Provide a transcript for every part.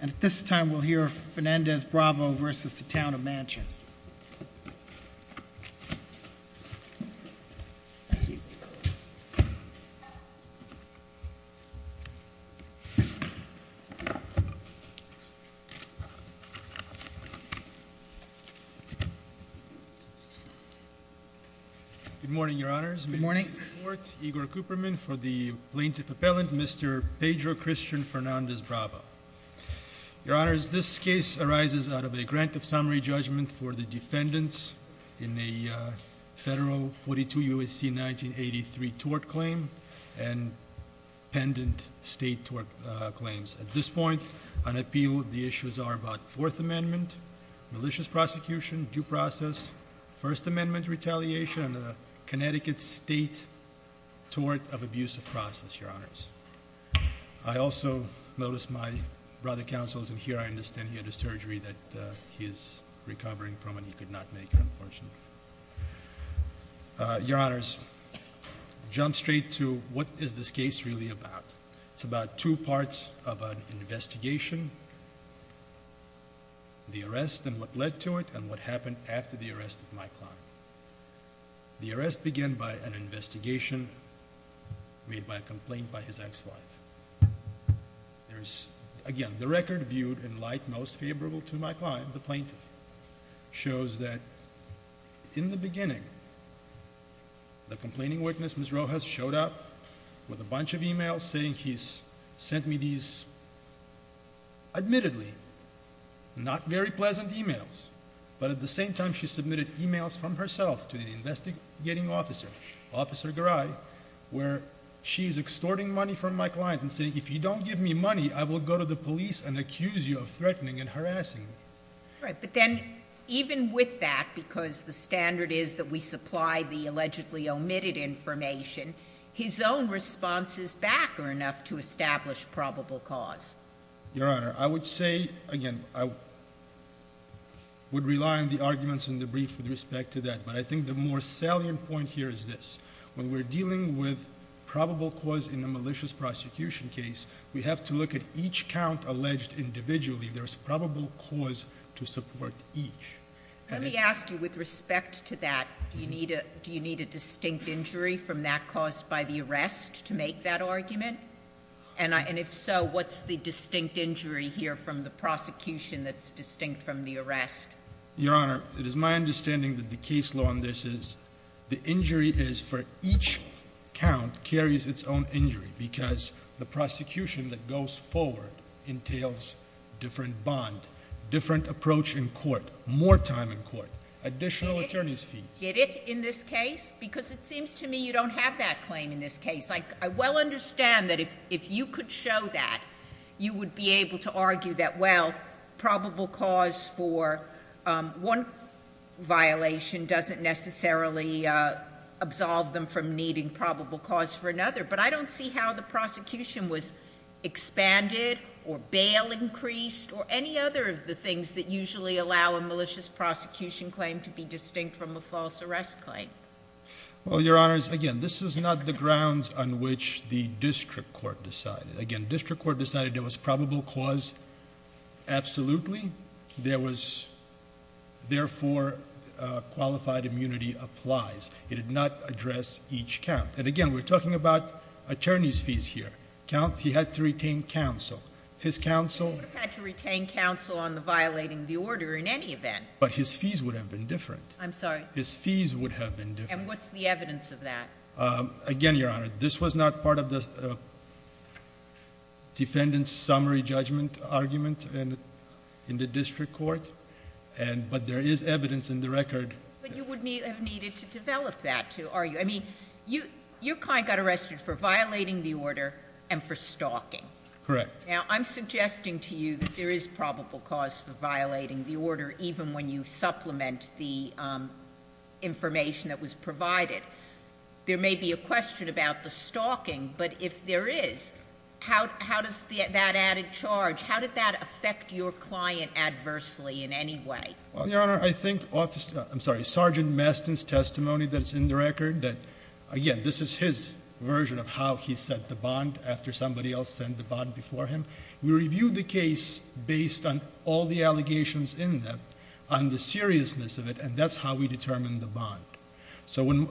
And at this time, we'll hear Fernandez-Bravo v. Town of Manchester. Good morning, your honors. Good morning. In support, Igor Cooperman for the Plaintiff Appellant, Mr. Pedro Christian Fernandez-Bravo. Your honors, this case arises out of a grant of summary judgment for the defendants in a federal 42 UAC 1983 tort claim and pendant state tort claims. At this point, on appeal, the issues are about Fourth Amendment, malicious prosecution, due process, First Amendment retaliation, and the Connecticut State Tort of Abusive Process, your honors. I also noticed my brother counsels in here, I understand he had a surgery that he is recovering from and he could not make it, unfortunately. Your honors, jump straight to what is this case really about? It's about two parts of an investigation, the arrest and what led to it, and what happened after the arrest of my client. The arrest began by an investigation made by a complaint by his ex-wife. There's, again, the record viewed in light most favorable to my client, the plaintiff, shows that in the beginning, the complaining witness, Ms. Rojas, showed up with a bunch of emails saying he's sent me these, but at the same time, she submitted emails from herself to the investigating officer, Officer Garay, where she's extorting money from my client and saying, if you don't give me money, I will go to the police and accuse you of threatening and harassing me. Right, but then, even with that, because the standard is that we supply the allegedly omitted information, his own responses back are enough to establish probable cause. Your honor, I would say, again, I would rely on the arguments in the brief with respect to that, but I think the more salient point here is this, when we're dealing with probable cause in a malicious prosecution case, we have to look at each count alleged individually, there's probable cause to support each. Let me ask you, with respect to that, do you need a distinct injury from that caused by the arrest to make that argument? And if so, what's the distinct injury here from the prosecution that's distinct from the arrest? Your honor, it is my understanding that the case law on this is the injury is for each count carries its own injury because the prosecution that goes forward entails different bond, different approach in court, more time in court, additional attorney's fees. Get it in this case? Because it seems to me you don't have that claim in this case. I well understand that if you could show that, you would be able to argue that, well, probable cause for one violation doesn't necessarily absolve them from needing probable cause for another, but I don't see how the prosecution was expanded, or bail increased, or any other of the things that usually allow a malicious prosecution claim to be distinct from a false arrest claim. Well, your honors, again, this is not the grounds on which the district court decided. Again, district court decided there was probable cause, absolutely. There was, therefore, qualified immunity applies. It did not address each count. And again, we're talking about attorney's fees here. Count, he had to retain counsel. His counsel- He would have had to retain counsel on violating the order in any event. But his fees would have been different. I'm sorry? His fees would have been different. And what's the evidence of that? Again, your honor, this was not part of the defendant's summary judgment argument in the district court, but there is evidence in the record. But you would have needed to develop that to argue. I mean, your client got arrested for violating the order and for stalking. Correct. Now, I'm suggesting to you that there is probable cause for violating the order even when you supplement the information that was provided. There may be a question about the stalking, but if there is, how does that added charge, how did that affect your client adversely in any way? Well, your honor, I think officer, I'm sorry, Sergeant Mastin's testimony that's in the record that, again, this is his version of how he set the bond after somebody else sent the bond before him. We reviewed the case based on all the allegations in that, on the seriousness of it, and that's how we determined the bond. So when,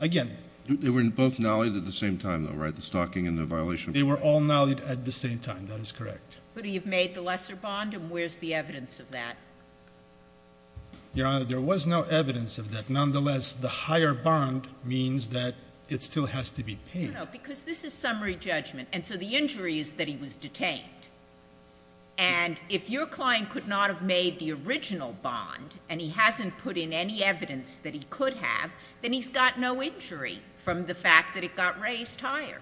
again- They were both knollied at the same time though, right? The stalking and the violation- They were all knollied at the same time, that is correct. But he had made the lesser bond, and where's the evidence of that? Your honor, there was no evidence of that. It still has to be paid. No, no, because this is summary judgment, and so the injury is that he was detained. And if your client could not have made the original bond, and he hasn't put in any evidence that he could have, then he's got no injury from the fact that it got raised higher.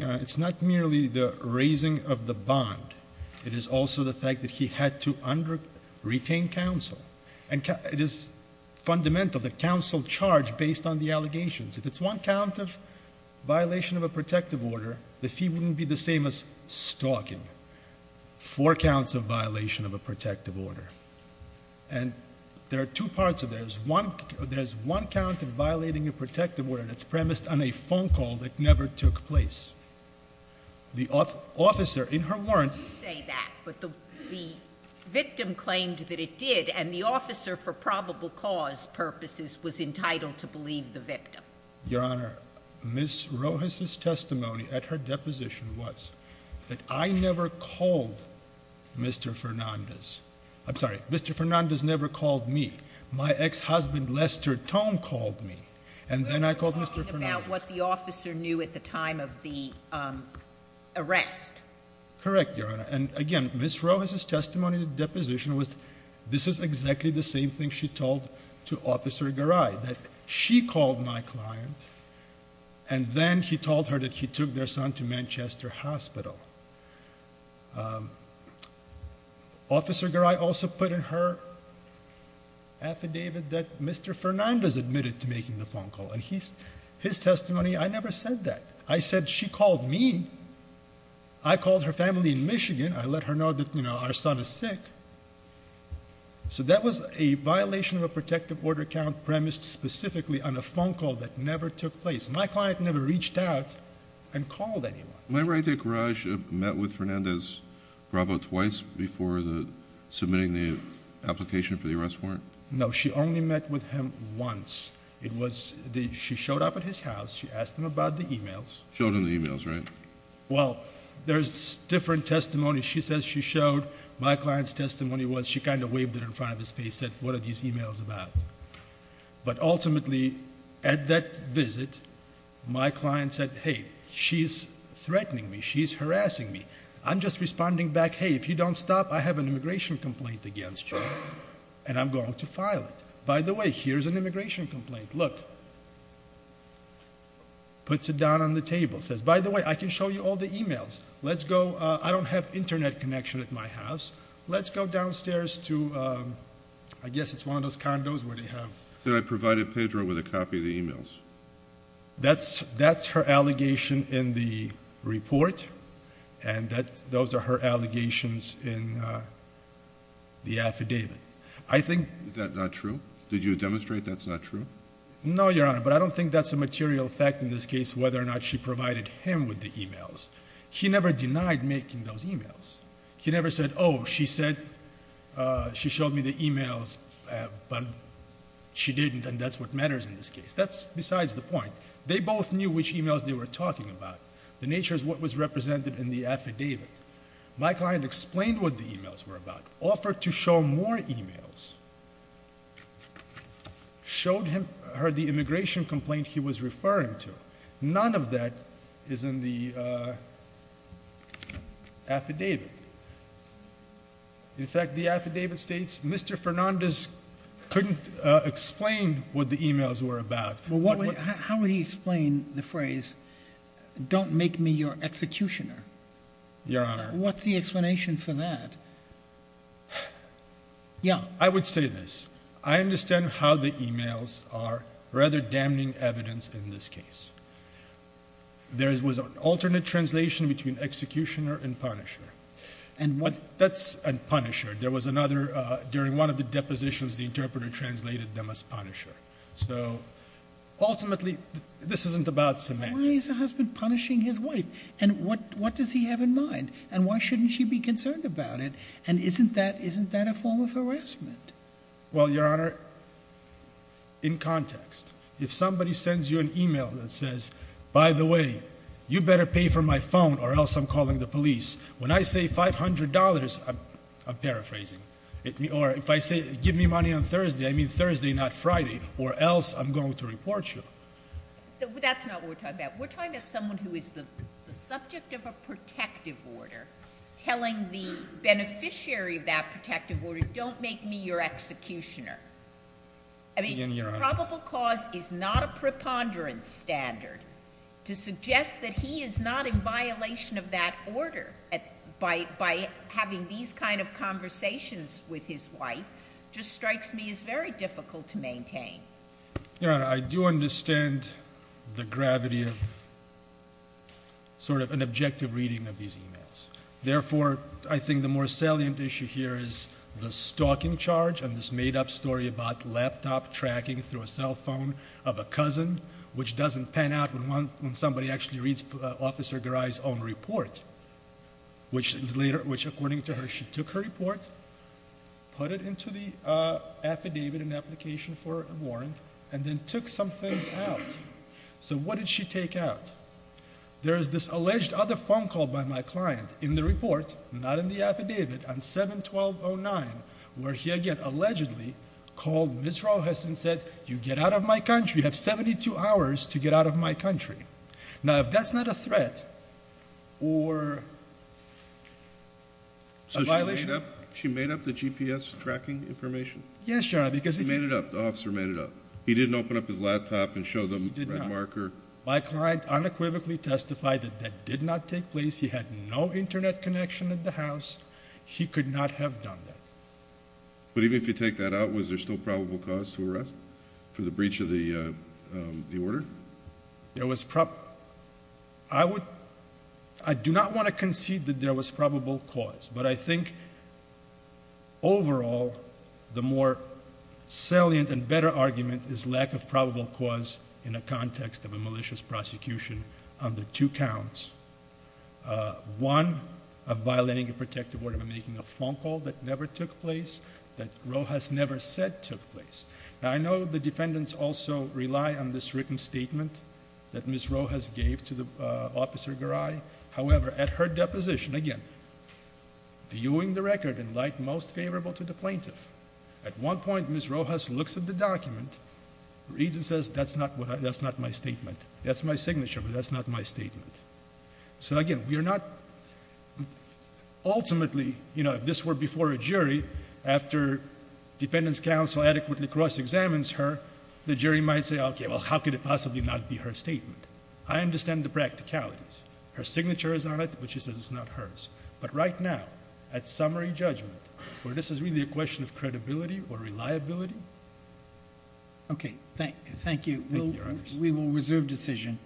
It's not merely the raising of the bond, it is also the fact that he had to retain counsel. And it is fundamental that counsel charge based on the allegations. If it's one count of violation of a protective order, the fee wouldn't be the same as stalking. Four counts of violation of a protective order. And there are two parts of this. There's one count of violating a protective order that's premised on a phone call that never took place. The officer, in her warrant- I don't want to say that, but the victim claimed that it did, and the officer, for probable cause purposes, was entitled to believe the victim. Your honor, Ms. Rojas' testimony at her deposition was that I never called Mr. Fernandez. I'm sorry, Mr. Fernandez never called me. My ex-husband, Lester Tone, called me, and then I called Mr. Fernandez. You're talking about what the officer knew at the time of the arrest. Correct, your honor. And again, Ms. Rojas' testimony at the deposition was this is exactly the same thing she told to Officer Garay, that she called my client, and then he told her that he took their son to Manchester Hospital. Officer Garay also put in her affidavit that Mr. Fernandez admitted to making the phone call. And his testimony, I never said that. I said she called me, I called her family in Michigan, I let her know that our son is sick. So that was a violation of a protective order count premised specifically on a phone call that never took place. My client never reached out and called anyone. Am I right that Garay met with Fernandez Bravo twice before submitting the application for the arrest warrant? No, she only met with him once. It was, she showed up at his house, she asked him about the emails. Showed him the emails, right? Well, there's different testimony she says she showed. My client's testimony was she kind of waved it in front of his face, said what are these emails about? But ultimately, at that visit, my client said, hey, she's threatening me, she's harassing me. I'm just responding back, hey, if you don't stop, I have an immigration complaint against you, and I'm going to file it. By the way, here's an immigration complaint, look. Puts it down on the table, says, by the way, I can show you all the emails. Let's go, I don't have internet connection at my house. Let's go downstairs to, I guess it's one of those condos where they have- That I provided Pedro with a copy of the emails. That's her allegation in the report, and those are her allegations in the affidavit. I think- Is that not true? Did you demonstrate that's not true? No, Your Honor, but I don't think that's a material fact in this case, whether or not she provided him with the emails. He never denied making those emails. He never said, she showed me the emails, but she didn't, and that's what matters in this case. That's besides the point. They both knew which emails they were talking about. The nature is what was represented in the affidavit. My client explained what the emails were about, offered to show more emails, showed her the immigration complaint he was referring to. None of that is in the affidavit. In fact, the affidavit states, Mr. Fernandez couldn't explain what the emails were about. Well, how would he explain the phrase, don't make me your executioner? Your Honor. What's the explanation for that? Yeah. I would say this. I understand how the emails are rather damning evidence in this case. There was an alternate translation between executioner and punisher. And what- That's a punisher. There was another, during one of the depositions, the interpreter translated them as punisher. So, ultimately, this isn't about semantics. Why is the husband punishing his wife? And what does he have in mind? And why shouldn't she be concerned about it? And isn't that a form of harassment? Well, Your Honor, in context, if somebody sends you an email that says, by the way, you better pay for my phone or else I'm calling the police. When I say $500, I'm paraphrasing. Or if I say, give me money on Thursday, I mean Thursday, not Friday, or else I'm going to report you. That's not what we're talking about. We're talking about someone who is the subject of a protective order, telling the beneficiary of that protective order, don't make me your executioner. I mean, probable cause is not a preponderance standard. To suggest that he is not in violation of that order by having these kind of conversations with his wife, just strikes me as very difficult to maintain. Your Honor, I do understand the gravity of sort of an objective reading of these emails. Therefore, I think the more salient issue here is the stalking charge and this made up story about laptop tracking through a cell phone of a cousin, which doesn't pan out when somebody actually reads Officer Garai's own report. Which is later, which according to her, she took her report, put it into the affidavit in application for a warrant, and then took some things out. So what did she take out? There is this alleged other phone call by my client in the report, not in the affidavit, on 7-1209, where he again allegedly called Ms. Rojas and said, you get out of my country, you have 72 hours to get out of my country. Now, if that's not a threat or a violation- So she made up the GPS tracking information? Yes, Your Honor, because if you- She made it up, the officer made it up. He didn't open up his laptop and show them the red marker. My client unequivocally testified that that did not take place. He had no internet connection at the house. He could not have done that. But even if you take that out, was there still probable cause to arrest for the breach of the order? There was, I do not want to concede that there was probable cause, but I think overall, the more salient and better argument is lack of probable cause in a context of a malicious prosecution under two counts. One, of violating a protective order by making a phone call that never took place, that Rojas never said took place. Now, I know the defendants also rely on this written statement that Ms. Rojas gave to the officer Garay. However, at her deposition, again, viewing the record in light most favorable to the plaintiff, at one point Ms. Rojas looks at the document, reads and says, that's not my statement. That's my signature, but that's not my statement. So again, we are not, ultimately, if this were before a jury, after defendants counsel adequately cross-examines her, the jury might say, okay, well, how could it possibly not be her statement? I understand the practicalities. Her signature is on it, but she says it's not hers. But right now, at summary judgment, where this is really a question of credibility or reliability. Okay, thank you. We will reserve decision.